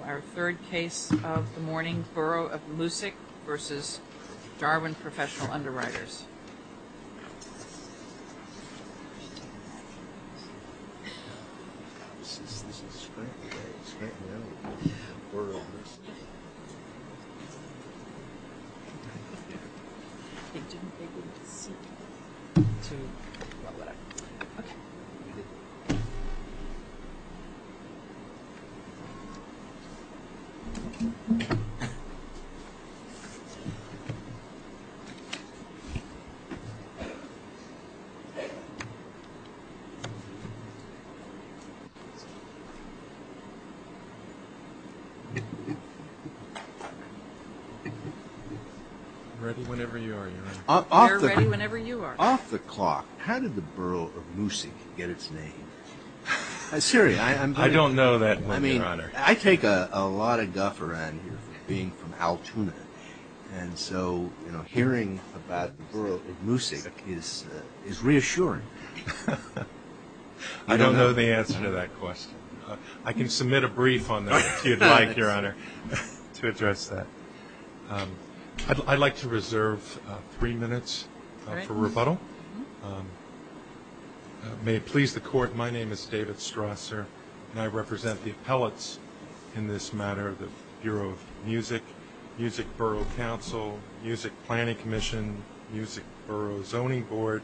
Our third case of the morning, Borough of Moosic v. Darwin Professional Underwriters. Our third case of the morning, Borough of Moosic v. Darwin Professional Underwriters. I don't know the answer to that question. I can submit a brief on that, if you'd like, Your Honor, to address that. I'd like to reserve three minutes for rebuttal. May it please the Court, my name is David Strasser, and I represent the appellates in this matter. The Bureau of Music, Moosic Borough Council, Moosic Planning Commission, Moosic Borough Zoning Board,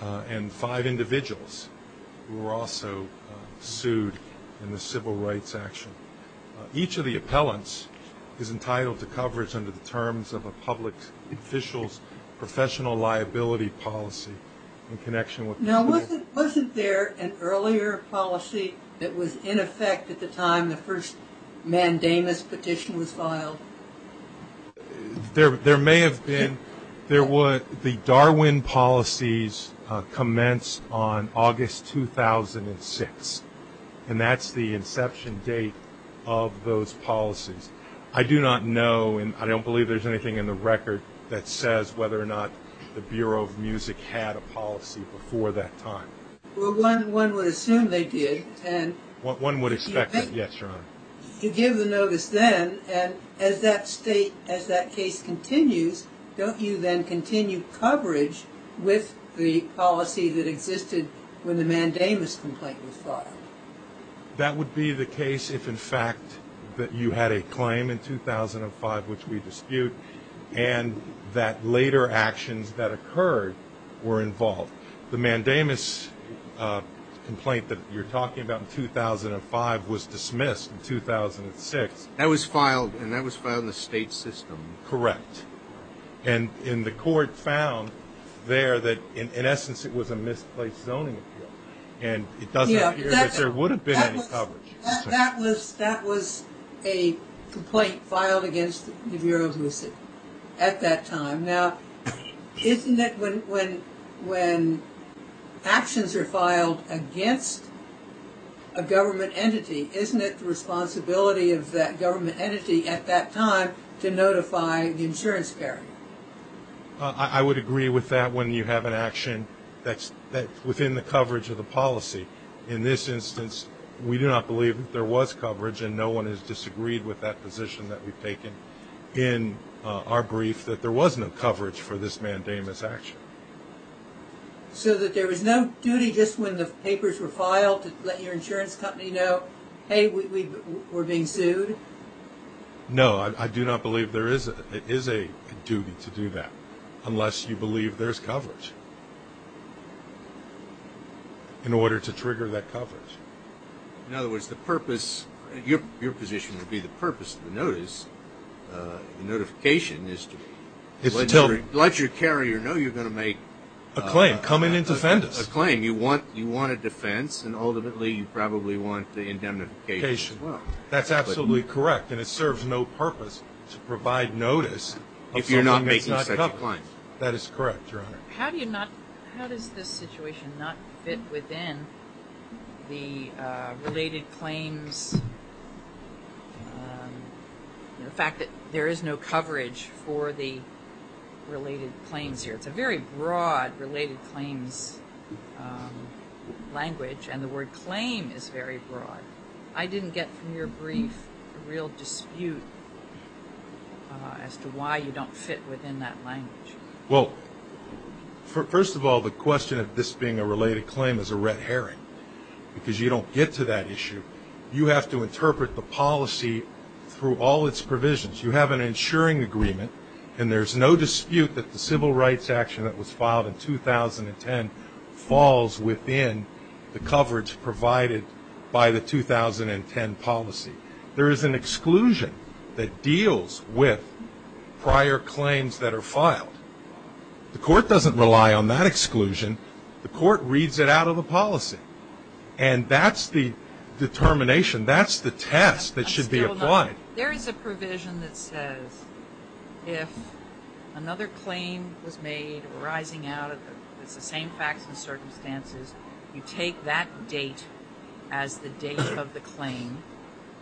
and five individuals who were also sued in the Civil Rights Action. Each of the appellants is entitled to coverage under the terms of a public official's professional liability policy. Now, wasn't there an earlier policy that was in effect at the time the first mandamus petition was filed? There may have been. The Darwin policies commenced on August 2006, and that's the inception date of those policies. I do not know, and I don't believe there's anything in the record that says whether or not the Bureau of Music had a policy before that time. Well, one would assume they did. One would expect it, yes, Your Honor. You give the notice then, and as that case continues, don't you then continue coverage with the policy that existed when the mandamus complaint was filed? That would be the case if, in fact, you had a claim in 2005, which we dispute, and that later actions that occurred were involved. The mandamus complaint that you're talking about in 2005 was dismissed in 2006. That was filed, and that was filed in the state system. Correct, and the court found there that, in essence, it was a misplaced zoning appeal, and it does appear that there would have been any coverage. That was a complaint filed against the Bureau of Music at that time. Now, isn't it when actions are filed against a government entity, isn't it the responsibility of that government entity at that time to notify the insurance payer? I would agree with that when you have an action that's within the coverage of the policy. In this instance, we do not believe that there was coverage, and no one has disagreed with that position that we've taken in our brief, that there was no coverage for this mandamus action. So that there was no duty just when the papers were filed to let your insurance company know, hey, we're being sued? No, I do not believe there is a duty to do that unless you believe there's coverage in order to trigger that coverage. In other words, the purpose, your position would be the purpose of the notice, notification, is to let your carrier know you're going to make a claim, you want a defense, and ultimately you probably want the indemnification as well. That's absolutely correct, and it serves no purpose to provide notice of something that's not covered. If you're not making such a claim. That is correct, Your Honor. How does this situation not fit within the related claims, the fact that there is no coverage for the related claims here? It's a very broad related claims language, and the word claim is very broad. I didn't get from your brief a real dispute as to why you don't fit within that language. Well, first of all, the question of this being a related claim is a red herring because you don't get to that issue. You have to interpret the policy through all its provisions. You have an insuring agreement, and there's no dispute that the civil rights action that was filed in 2010 falls within the coverage provided by the 2010 policy. There is an exclusion that deals with prior claims that are filed. The court doesn't rely on that exclusion. The court reads it out of the policy, and that's the determination. That's the test that should be applied. There is a provision that says if another claim was made arising out of the same facts and circumstances, you take that date as the date of the claim,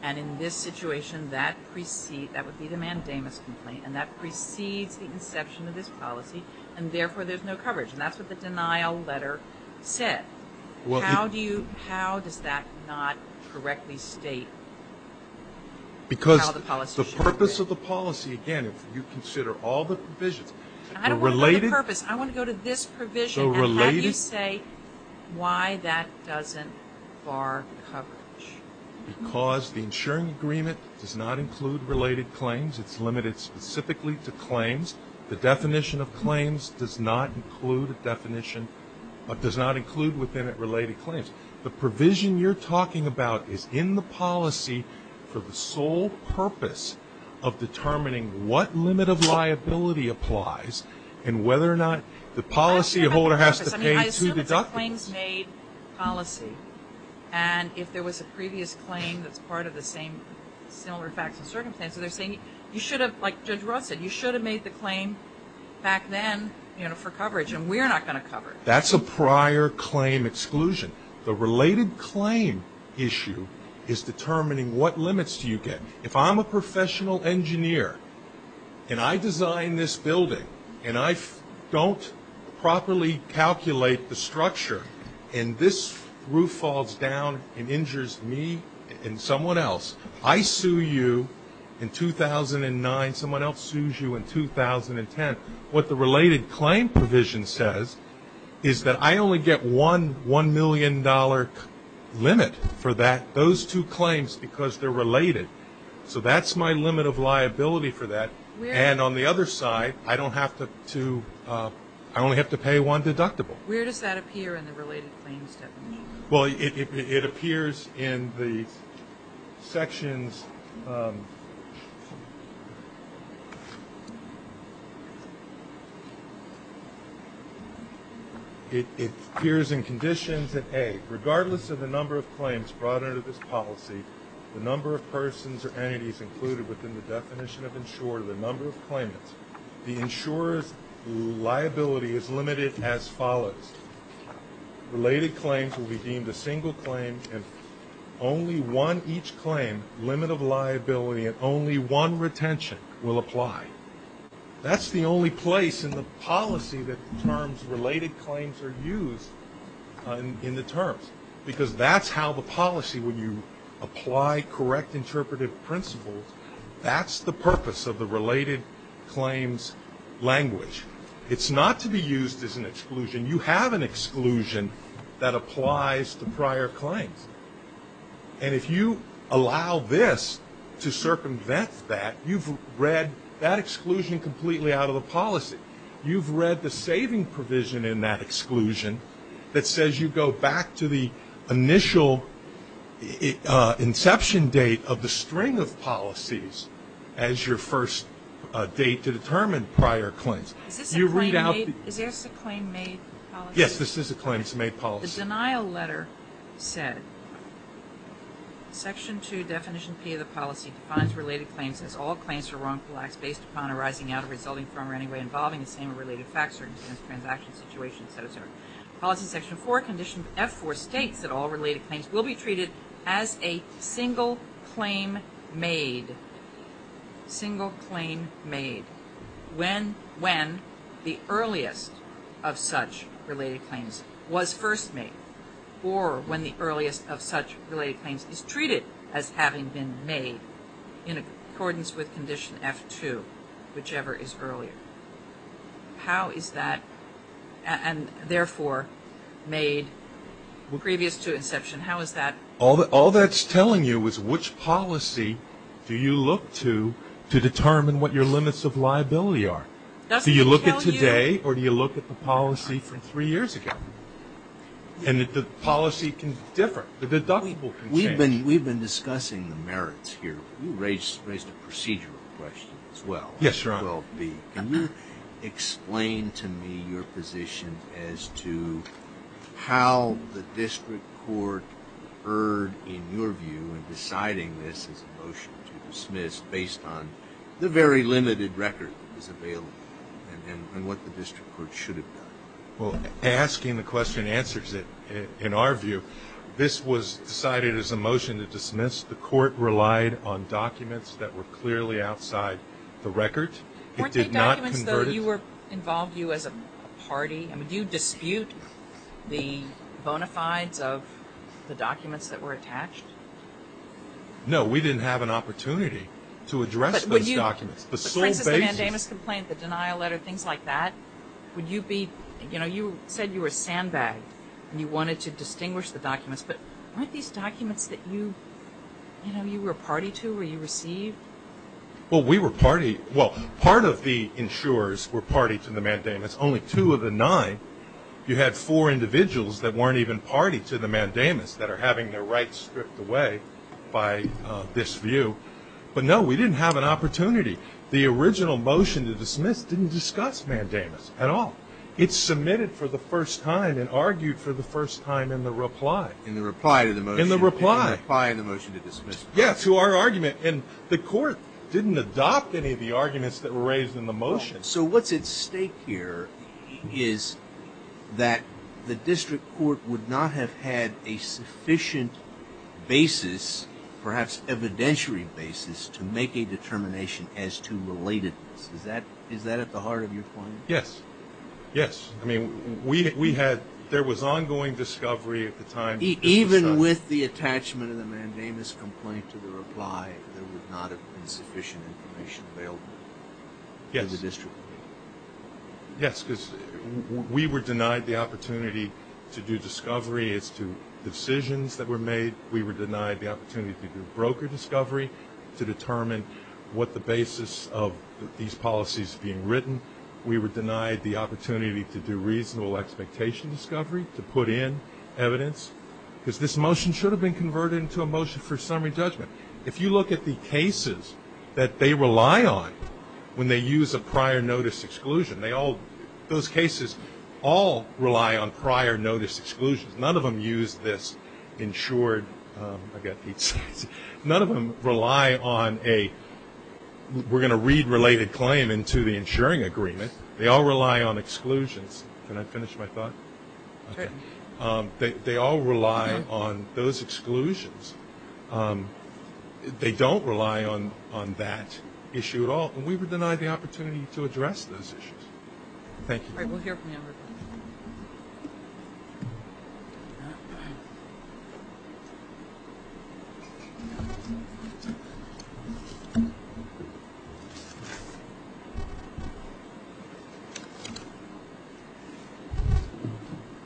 and in this situation, that would be the mandamus complaint, and that precedes the inception of this policy, and therefore there's no coverage. And that's what the denial letter said. How does that not correctly state how the policy should be? Because the purpose of the policy, again, if you consider all the provisions, the related – I don't want to go to the purpose. I want to go to this provision. So related – Can you say why that doesn't bar coverage? Because the insuring agreement does not include related claims. It's limited specifically to claims. The definition of claims does not include a definition, but does not include within it related claims. The provision you're talking about is in the policy for the sole purpose of determining what limit of liability applies and whether or not the policyholder has to pay to deduct it. I assume it's a claims-made policy, and if there was a previous claim that's part of the same similar facts and circumstances, they're saying you should have – like Judge Roth said, you should have made the claim back then for coverage, and we're not going to cover it. That's a prior claim exclusion. The related claim issue is determining what limits do you get. If I'm a professional engineer and I design this building and I don't properly calculate the structure and this roof falls down and injures me and someone else, I sue you in 2009. Someone else sues you in 2010. What the related claim provision says is that I only get one $1 million limit for those two claims because they're related, so that's my limit of liability for that. And on the other side, I don't have to – I only have to pay one deductible. Where does that appear in the related claims definition? Well, it appears in the sections – it appears in conditions that, A, regardless of the number of claims brought under this policy, the number of persons or entities included within the definition of insurer, the number of claimants, the insurer's liability is limited as follows. Related claims will be deemed a single claim, and only one each claim, limit of liability, and only one retention will apply. That's the only place in the policy that terms related claims are used in the terms because that's how the policy, when you apply correct interpretive principles, that's the purpose of the related claims language. It's not to be used as an exclusion. You have an exclusion that applies to prior claims. And if you allow this to circumvent that, you've read that exclusion completely out of the policy. You've read the saving provision in that exclusion that says you go back to the initial inception date of the string of policies as your first date to determine prior claims. Is this a claim made policy? Yes, this is a claim made policy. As the denial letter said, Section 2, Definition P of the policy defines related claims as all claims for wrongful acts based upon arising out of, resulting from, or any way involving the same or related facts, circumstances, transactions, situations, etc. Policy Section 4, Condition F4 states that all related claims will be treated as a single claim made, single claim made, when the earliest of such related claims was first made or when the earliest of such related claims is treated as having been made in accordance with Condition F2, whichever is earlier. How is that, and therefore made previous to inception, how is that? All that's telling you is which policy do you look to to determine what your limits of liability are. Do you look at today or do you look at the policy from three years ago? And the policy can differ. The deductible can change. We've been discussing the merits here. You raised a procedural question as well. Yes, Your Honor. Can you explain to me your position as to how the district court heard, in your view, in deciding this as a motion to dismiss based on the very limited record that was available and what the district court should have done? Well, asking the question answers it. In our view, this was decided as a motion to dismiss. The court relied on documents that were clearly outside the record. Weren't they documents, though, that involved you as a party? I mean, do you dispute the bona fides of the documents that were attached? No, we didn't have an opportunity to address those documents. The plaintiff's mandamus complaint, the denial letter, things like that. You said you were sandbagged and you wanted to distinguish the documents, but weren't these documents that you were party to or you received? Well, we were party. Well, part of the insurers were party to the mandamus, only two of the nine. You had four individuals that weren't even party to the mandamus that are having their rights stripped away by this view. But, no, we didn't have an opportunity. The original motion to dismiss didn't discuss mandamus at all. It's submitted for the first time and argued for the first time in the reply. In the reply to the motion. In the reply. In the reply in the motion to dismiss. Yes, to our argument. And the court didn't adopt any of the arguments that were raised in the motion. So what's at stake here is that the district court would not have had a sufficient basis, perhaps evidentiary basis, to make a determination as to relatedness. Is that at the heart of your point? Yes. Yes. I mean, there was ongoing discovery at the time. Even with the attachment of the mandamus complaint to the reply, there would not have been sufficient information available to the district court. Yes, because we were denied the opportunity to do discovery as to decisions that were made. We were denied the opportunity to do broker discovery to determine what the basis of these policies being written. We were denied the opportunity to do reasonable expectation discovery, to put in evidence. Because this motion should have been converted into a motion for summary judgment. If you look at the cases that they rely on when they use a prior notice exclusion, those cases all rely on prior notice exclusions. None of them use this insured. I've got eight slides. None of them rely on a we're going to read related claim into the insuring agreement. They all rely on exclusions. Can I finish my thought? Okay. They all rely on those exclusions. They don't rely on that issue at all. Thank you. All right, we'll hear from you.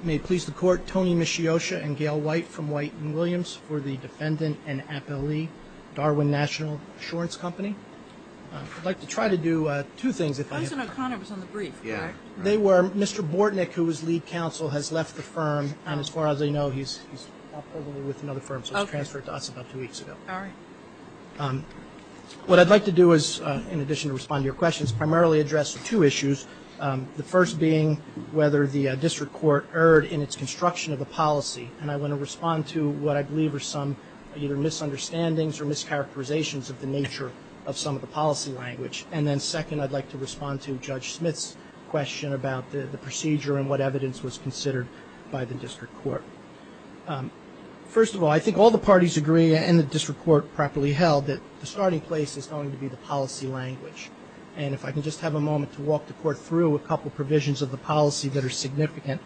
May it please the court, Tony Mishiosha and Gail White from White and Williams for the defendant and appellee, Darwin National Insurance Company. I'd like to try to do two things. Yeah. They were Mr. Bortnick, who was lead counsel, has left the firm. And as far as I know, he's probably with another firm. So he transferred to us about two weeks ago. All right. What I'd like to do is, in addition to respond to your questions, primarily address two issues. The first being whether the district court erred in its construction of a policy. And I want to respond to what I believe are some either misunderstandings or mischaracterizations of the nature of some of the policy language. And then second, I'd like to respond to Judge Smith's question about the procedure and what evidence was considered by the district court. First of all, I think all the parties agree, and the district court properly held, that the starting place is going to be the policy language. And if I can just have a moment to walk the court through a couple of provisions of the policy that are significant,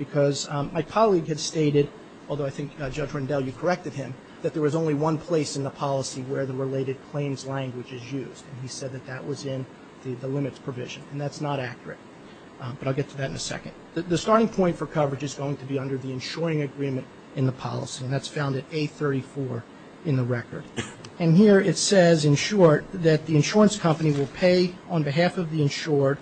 because my colleague had stated, although I think Judge Rendell, you corrected him, that there was only one place in the policy where the related claims language is used. And he said that that was in the limits provision. And that's not accurate. But I'll get to that in a second. The starting point for coverage is going to be under the insuring agreement in the policy, and that's found at A34 in the record. And here it says, in short, that the insurance company will pay on behalf of the insured,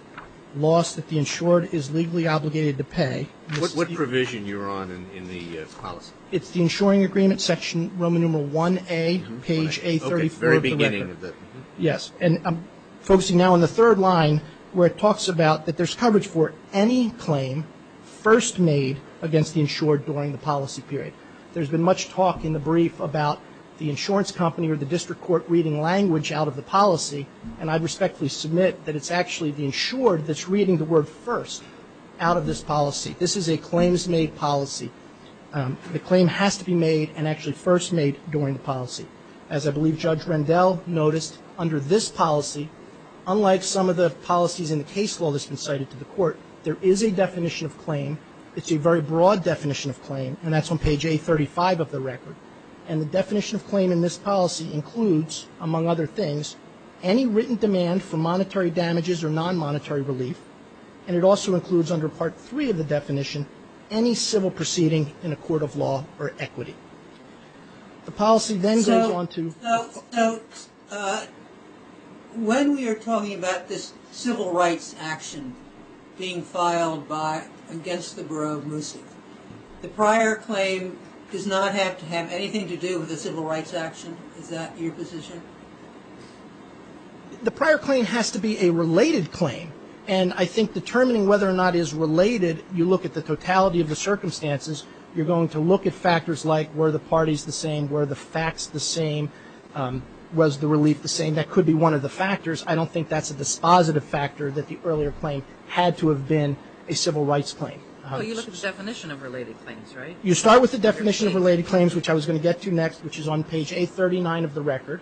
loss that the insured is legally obligated to pay. What provision you're on in the policy? It's the insuring agreement, section Roman numeral 1A, page A34 of the record. Yes. And I'm focusing now on the third line, where it talks about that there's coverage for any claim first made against the insured during the policy period. There's been much talk in the brief about the insurance company or the district court reading language out of the policy. And I respectfully submit that it's actually the insured that's reading the word first out of this policy. This is a claims-made policy. The claim has to be made and actually first made during the policy. As I believe Judge Rendell noticed, under this policy, unlike some of the policies in the case law that's been cited to the court, there is a definition of claim. It's a very broad definition of claim, and that's on page A35 of the record. And the definition of claim in this policy includes, among other things, any written demand for monetary damages or non-monetary relief, and it also includes under Part III of the definition, any civil proceeding in a court of law or equity. The policy then goes on to the court. So when we are talking about this civil rights action being filed against the Borough of Mooson, the prior claim does not have to have anything to do with a civil rights action? Is that your position? The prior claim has to be a related claim. And I think determining whether or not it is related, you look at the totality of the circumstances. You're going to look at factors like were the parties the same, were the facts the same, was the relief the same. That could be one of the factors. I don't think that's a dispositive factor that the earlier claim had to have been a civil rights claim. Well, you look at the definition of related claims, right? You start with the definition of related claims, which I was going to get to next, which is on page A39 of the record.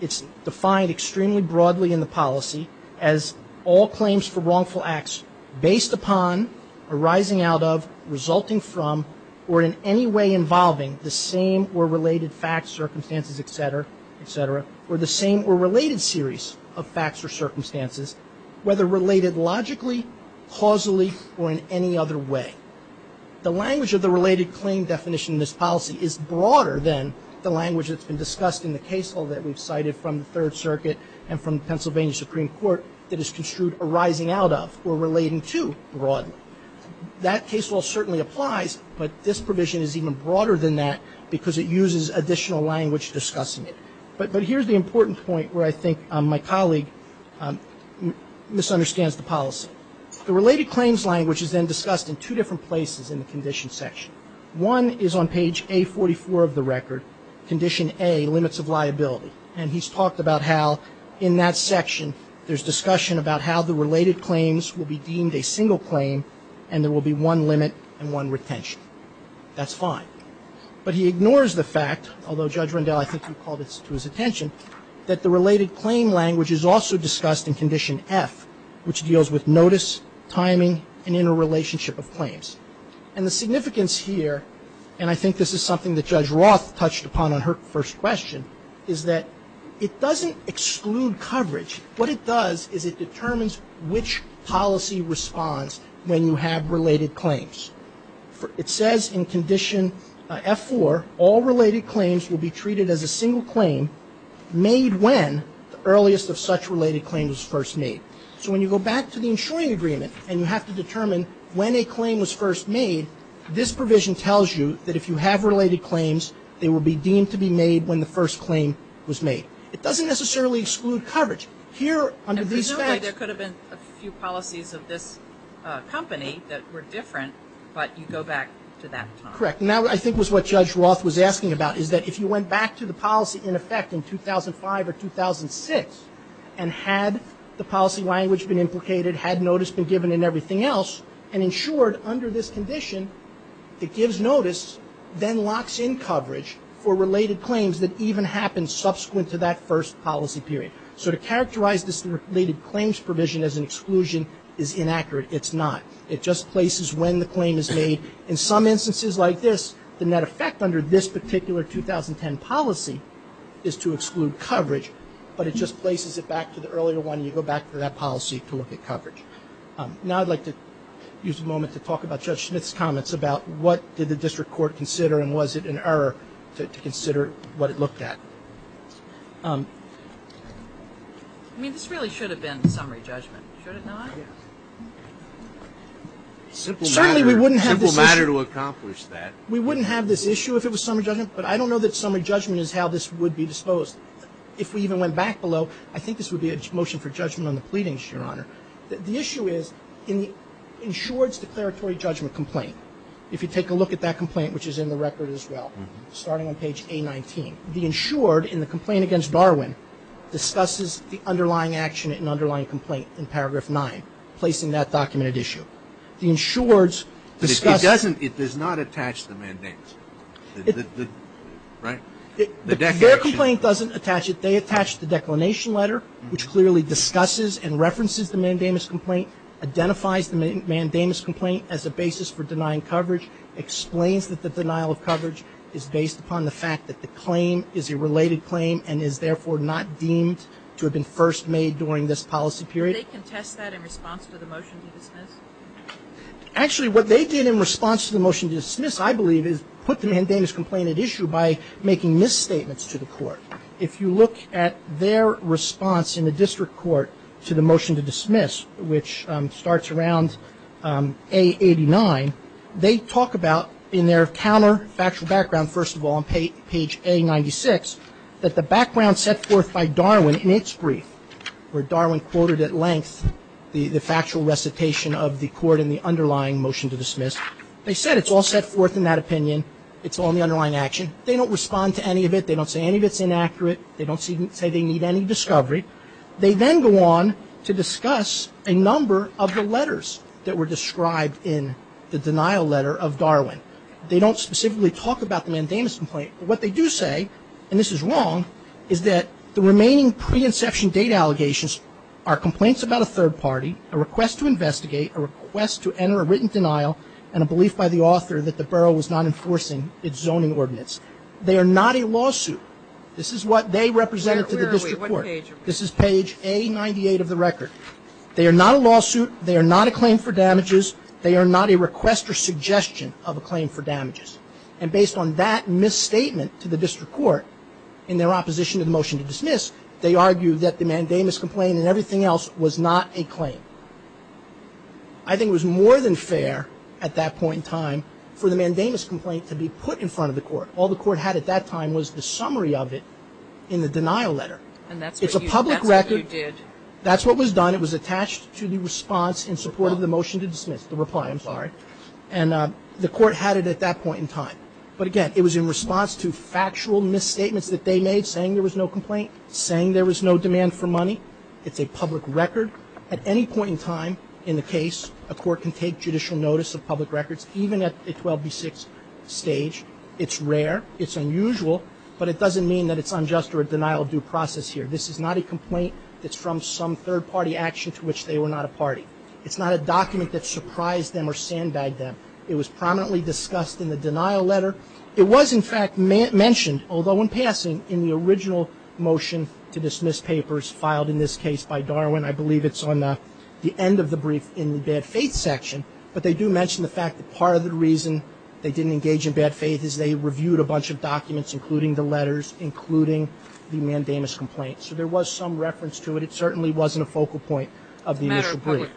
It's defined extremely broadly in the policy as all claims for wrongful acts based upon, arising out of, resulting from, or in any way involving the same or related facts, circumstances, et cetera, et cetera, or the same or related series of facts or circumstances, whether related logically, causally, or in any other way. The language of the related claim definition in this policy is broader than the language that's been discussed in the case law that we've cited from the Third Circuit and from Pennsylvania Supreme Court that is construed arising out of or relating to broadly. That case law certainly applies, but this provision is even broader than that because it uses additional language discussing it. But here's the important point where I think my colleague misunderstands the policy. The related claims language is then discussed in two different places in the condition section. One is on page A44 of the record, condition A, limits of liability, and he's talked about how in that section there's discussion about how the related claims will be deemed a single claim and there will be one limit and one retention. That's fine. But he ignores the fact, although Judge Rendell, I think you called this to his attention, that the related claim language is also discussed in condition F, which deals with notice, timing, and interrelationship of claims. And the significance here, and I think this is something that Judge Roth touched upon on her first question, is that it doesn't exclude coverage. What it does is it determines which policy responds when you have related claims. It says in condition F4, all related claims will be treated as a single claim made when the earliest of such related claims was first made. So when you go back to the insuring agreement and you have to determine when a claim was first made, this provision tells you that if you have related claims, they will be deemed to be made when the first claim was made. It doesn't necessarily exclude coverage. Presumably there could have been a few policies of this company that were different, but you go back to that time. Correct. And that, I think, was what Judge Roth was asking about, is that if you went back to the policy in effect in 2005 or 2006 and had the policy language been implicated, had notice been given, and everything else, and insured under this condition, it gives notice, then locks in coverage for related claims that even happen subsequent to that first policy period. So to characterize this related claims provision as an exclusion is inaccurate. It's not. It just places when the claim is made. In some instances like this, the net effect under this particular 2010 policy is to exclude coverage, but it just places it back to the earlier one, and you go back to that policy to look at coverage. Now I'd like to use a moment to talk about Judge Schnitt's comments about what did the district court consider and was it an error to consider what it looked at. I mean, this really should have been summary judgment, should it not? Certainly we wouldn't have this issue. Simple matter to accomplish that. We wouldn't have this issue if it was summary judgment, but I don't know that summary judgment is how this would be disposed. If we even went back below, I think this would be a motion for judgment on the pleadings, Your Honor. The issue is in the insured's declaratory judgment complaint, if you take a look at that complaint, which is in the record as well, starting on page A-19, the insured in the complaint against Darwin discusses the underlying action and underlying complaint in paragraph 9, placing that documented issue. The insured's discusses. It doesn't. It does not attach the mandates. Right? Their complaint doesn't attach it. They attach the declination letter, which clearly discusses and references the mandamus complaint, identifies the mandamus complaint as a basis for denying coverage, explains that the denial of coverage is based upon the fact that the claim is a related claim and is, therefore, not deemed to have been first made during this policy period. Did they contest that in response to the motion to dismiss? Actually, what they did in response to the motion to dismiss, I believe, is put the mandamus complaint at issue by making misstatements to the court. If you look at their response in the district court to the motion to dismiss, which starts around A-89, they talk about in their counterfactual background, first of all, on page A-96, that the background set forth by Darwin in its brief, where Darwin quoted at length the factual recitation of the court and the underlying motion to dismiss, they said it's all set forth in that opinion. It's all in the underlying action. They don't respond to any of it. They don't say any of it's inaccurate. They don't say they need any discovery. They then go on to discuss a number of the letters that were described in the denial letter of Darwin. They don't specifically talk about the mandamus complaint, but what they do say, and this is wrong, is that the remaining pre-inception date allegations are complaints about a third party, a request to investigate, a request to enter a written denial, and a belief by the author that the borough was not enforcing its zoning ordinance. They are not a lawsuit. This is what they represented to the district court. This is page A-98 of the record. They are not a lawsuit. They are not a claim for damages. They are not a request or suggestion of a claim for damages. And based on that misstatement to the district court in their opposition to the motion to dismiss, they argue that the mandamus complaint and everything else was not a claim. I think it was more than fair at that point in time for the mandamus complaint to be put in front of the court. All the court had at that time was the summary of it in the denial letter. And that's what you did. It's a public record. That's what was done. It was attached to the response in support of the motion to dismiss, the reply, I'm sorry. And the court had it at that point in time. But, again, it was in response to factual misstatements that they made saying there was no complaint, saying there was no demand for money. It's a public record. At any point in time in the case, a court can take judicial notice of public records, even at the 12B6 stage. It's rare. It's unusual. But it doesn't mean that it's unjust or a denial of due process here. This is not a complaint that's from some third-party action to which they were not a party. It's not a document that surprised them or sandbagged them. It was prominently discussed in the denial letter. It was, in fact, mentioned, although in passing, in the original motion to dismiss papers filed in this case by Darwin. I believe it's on the end of the brief in the bad faith section. But they do mention the fact that part of the reason they didn't engage in bad faith is they reviewed a bunch of documents, including the letters, including the mandamus complaint. So there was some reference to it. It certainly wasn't a focal point of the initial brief.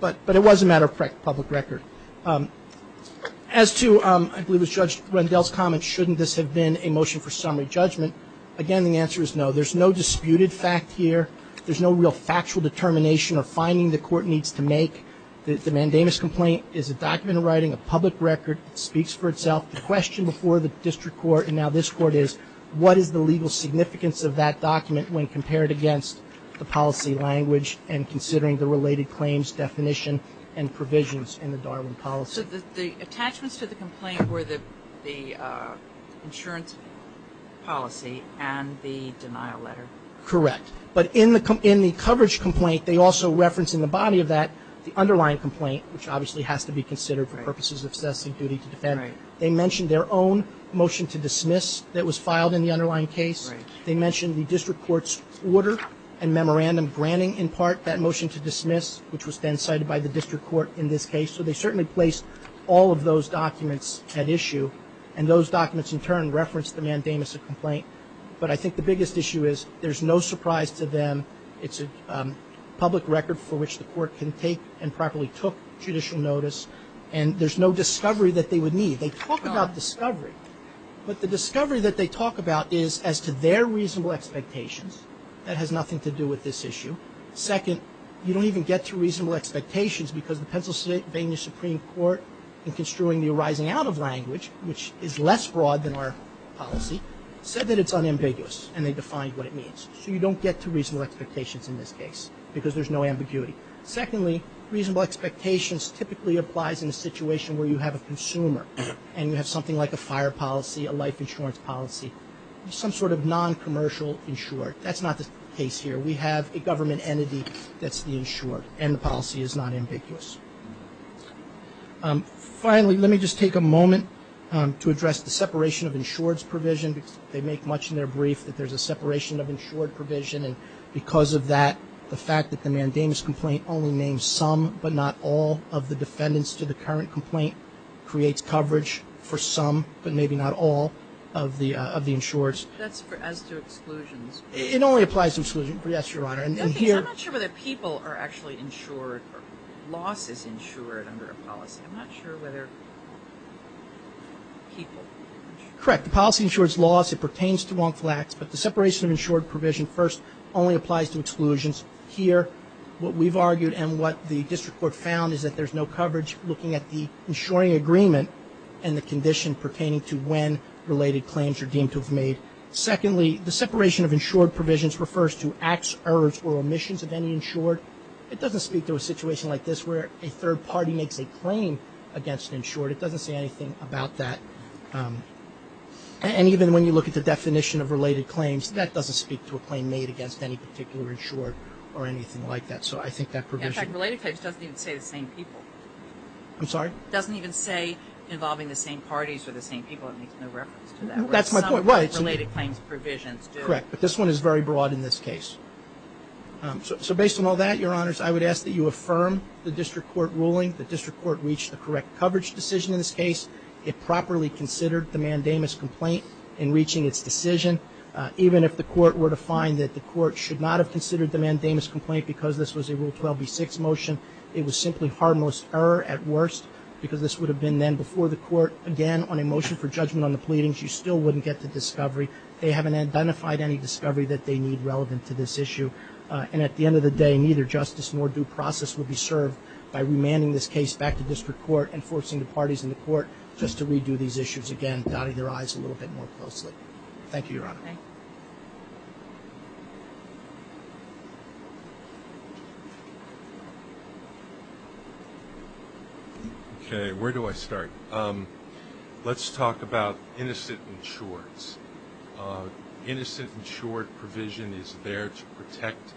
But it was a matter of public record. As to, I believe it was Judge Rendell's comment, shouldn't this have been a motion for summary judgment? Again, the answer is no. There's no disputed fact here. There's no real factual determination or finding the court needs to make. The mandamus complaint is a document of writing, a public record. It speaks for itself. The question before the district court and now this court is, what is the legal significance of that document when compared against the policy language and considering the related claims definition and provisions in the Darwin policy? So the attachments to the complaint were the insurance policy and the denial letter. Correct. But in the coverage complaint, they also reference in the body of that the underlying complaint, which obviously has to be considered for purposes of assessing duty to defend. Right. They mentioned their own motion to dismiss that was filed in the underlying case. They mentioned the district court's order and memorandum granting in part that motion to dismiss, which was then cited by the district court in this case. So they certainly placed all of those documents at issue. And those documents in turn referenced the mandamus complaint. But I think the biggest issue is there's no surprise to them. It's a public record for which the court can take and properly took judicial notice. And there's no discovery that they would need. They talk about discovery. But the discovery that they talk about is as to their reasonable expectations. That has nothing to do with this issue. Second, you don't even get to reasonable expectations because the Pennsylvania Supreme Court, in construing the arising out of language, which is less broad than our policy, said that it's unambiguous and they defined what it means. So you don't get to reasonable expectations in this case because there's no ambiguity. Secondly, reasonable expectations typically applies in a situation where you have a consumer and you have something like a fire policy, a life insurance policy, some sort of noncommercial insured. That's not the case here. We have a government entity that's the insured and the policy is not ambiguous. Finally, let me just take a moment to address the separation of insureds provision. They make much in their brief that there's a separation of insured provision. And because of that, the fact that the mandamus complaint only names some but not all of the defendants to the current complaint creates coverage for some but maybe not all of the insurers. That's as to exclusions. It only applies to exclusions. Yes, Your Honor. I'm not sure whether people are actually insured or losses insured under a policy. I'm not sure whether people are insured. Correct. The policy insures loss. It pertains to wrongful acts. But the separation of insured provision first only applies to exclusions. Here, what we've argued and what the district court found is that there's no coverage looking at the insuring agreement and the condition pertaining to when related claims are deemed to have made. Secondly, the separation of insured provisions refers to acts, errors, or omissions of any insured. It doesn't speak to a situation like this where a third party makes a claim against an insured. It doesn't say anything about that. And even when you look at the definition of related claims, that doesn't speak to a claim made against any particular insured or anything like that. So I think that provision. In fact, related claims doesn't even say the same people. I'm sorry? It doesn't even say involving the same parties or the same people. It makes no reference to that. That's my point. Related claims provisions do. Correct. But this one is very broad in this case. So based on all that, Your Honors, I would ask that you affirm the district court ruling. The district court reached the correct coverage decision in this case. It properly considered the mandamus complaint in reaching its decision. Even if the court were to find that the court should not have considered the mandamus complaint because this was a Rule 12b-6 motion, it was simply harmless error at worst because this would have been then before the court. Again, on a motion for judgment on the pleadings, you still wouldn't get the discovery. They haven't identified any discovery that they need relevant to this issue. And at the end of the day, neither justice nor due process will be served by remanding this case back to district court and forcing the parties in the court just to redo these issues again, dotting their I's a little bit more closely. Thank you, Your Honor. Okay, where do I start? Let's talk about innocent insureds. Innocent insured provision is there to protect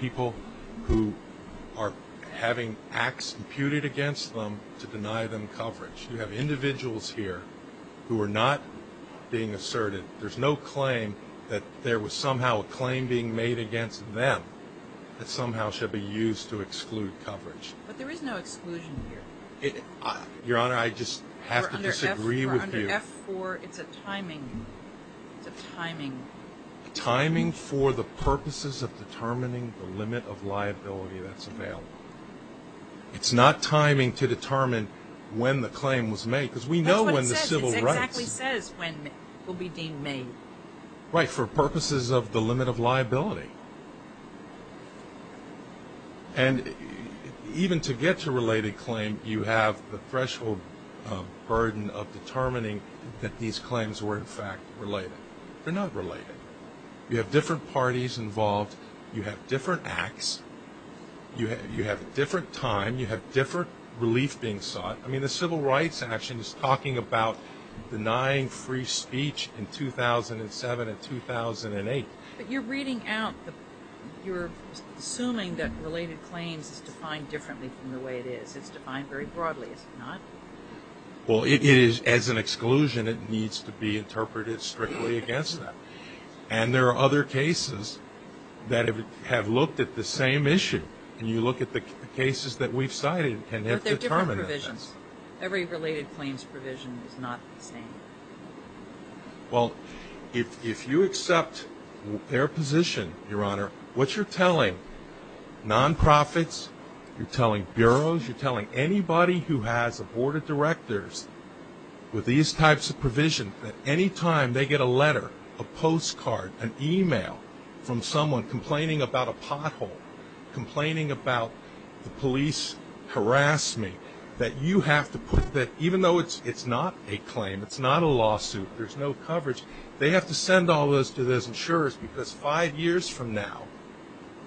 people who are having acts imputed against them to deny them coverage. You have individuals here who are not being asserted. There's no claim that there was somehow a claim being made against them that somehow should be used to exclude coverage. But there is no exclusion here. Your Honor, I just have to disagree with you. Under F-4, it's a timing. It's a timing. Timing for the purposes of determining the limit of liability that's available. It's not timing to determine when the claim was made. That's what it says. It exactly says when it will be deemed made. Right, for purposes of the limit of liability. And even to get to a related claim, you have the threshold burden of determining that these claims were in fact related. They're not related. You have different parties involved. You have different acts. You have a different time. You have different relief being sought. I mean, the Civil Rights Action is talking about denying free speech in 2007 and 2008. But you're reading out, you're assuming that related claims is defined differently from the way it is. It's defined very broadly, is it not? Well, as an exclusion, it needs to be interpreted strictly against them. And there are other cases that have looked at the same issue. And you look at the cases that we've cited and have determined that. But they're different provisions. Every related claims provision is not the same. Well, if you accept their position, Your Honor, what you're telling nonprofits, you're telling bureaus, you're telling anybody who has a board of directors with these types of provision that any time they get a letter, a postcard, an email from someone complaining about a pothole, complaining about the police harassed me, that you have to put that, even though it's not a claim, it's not a lawsuit, there's no coverage, they have to send all those to those insurers. Because five years from now,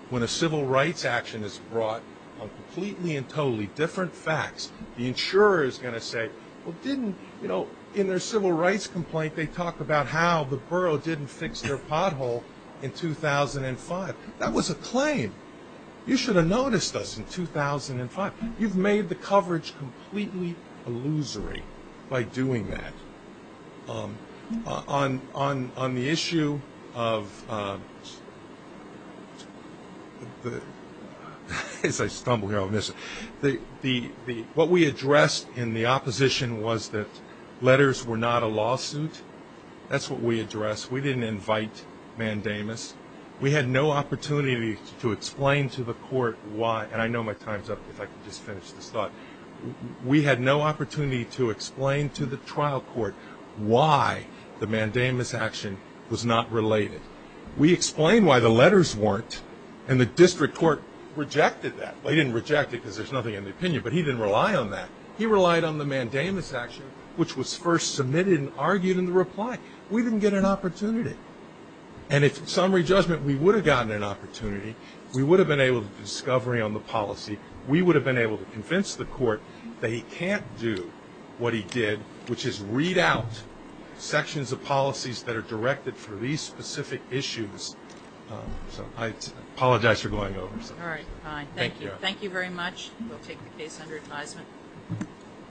when a civil rights action is brought on completely and they talk about how the borough didn't fix their pothole in 2005, that was a claim. You should have noticed us in 2005. You've made the coverage completely illusory by doing that. On the issue of the, as I stumble here, I'll miss it. What we addressed in the opposition was that letters were not a lawsuit. That's what we addressed. We didn't invite mandamus. We had no opportunity to explain to the court why, and I know my time's up, if I can just finish this thought. We had no opportunity to explain to the trial court why the mandamus action was not related. We explained why the letters weren't, and the district court rejected that. They didn't reject it because there's nothing in the opinion, but he didn't rely on that. He relied on the mandamus action, which was first submitted and argued in the reply. We didn't get an opportunity. And if summary judgment, we would have gotten an opportunity. We would have been able to do discovery on the policy. We would have been able to convince the court that he can't do what he did, which is read out sections of policies that are directed for these specific issues. I apologize for going over. All right, fine. Thank you. Thank you very much. We'll take the case under advisement.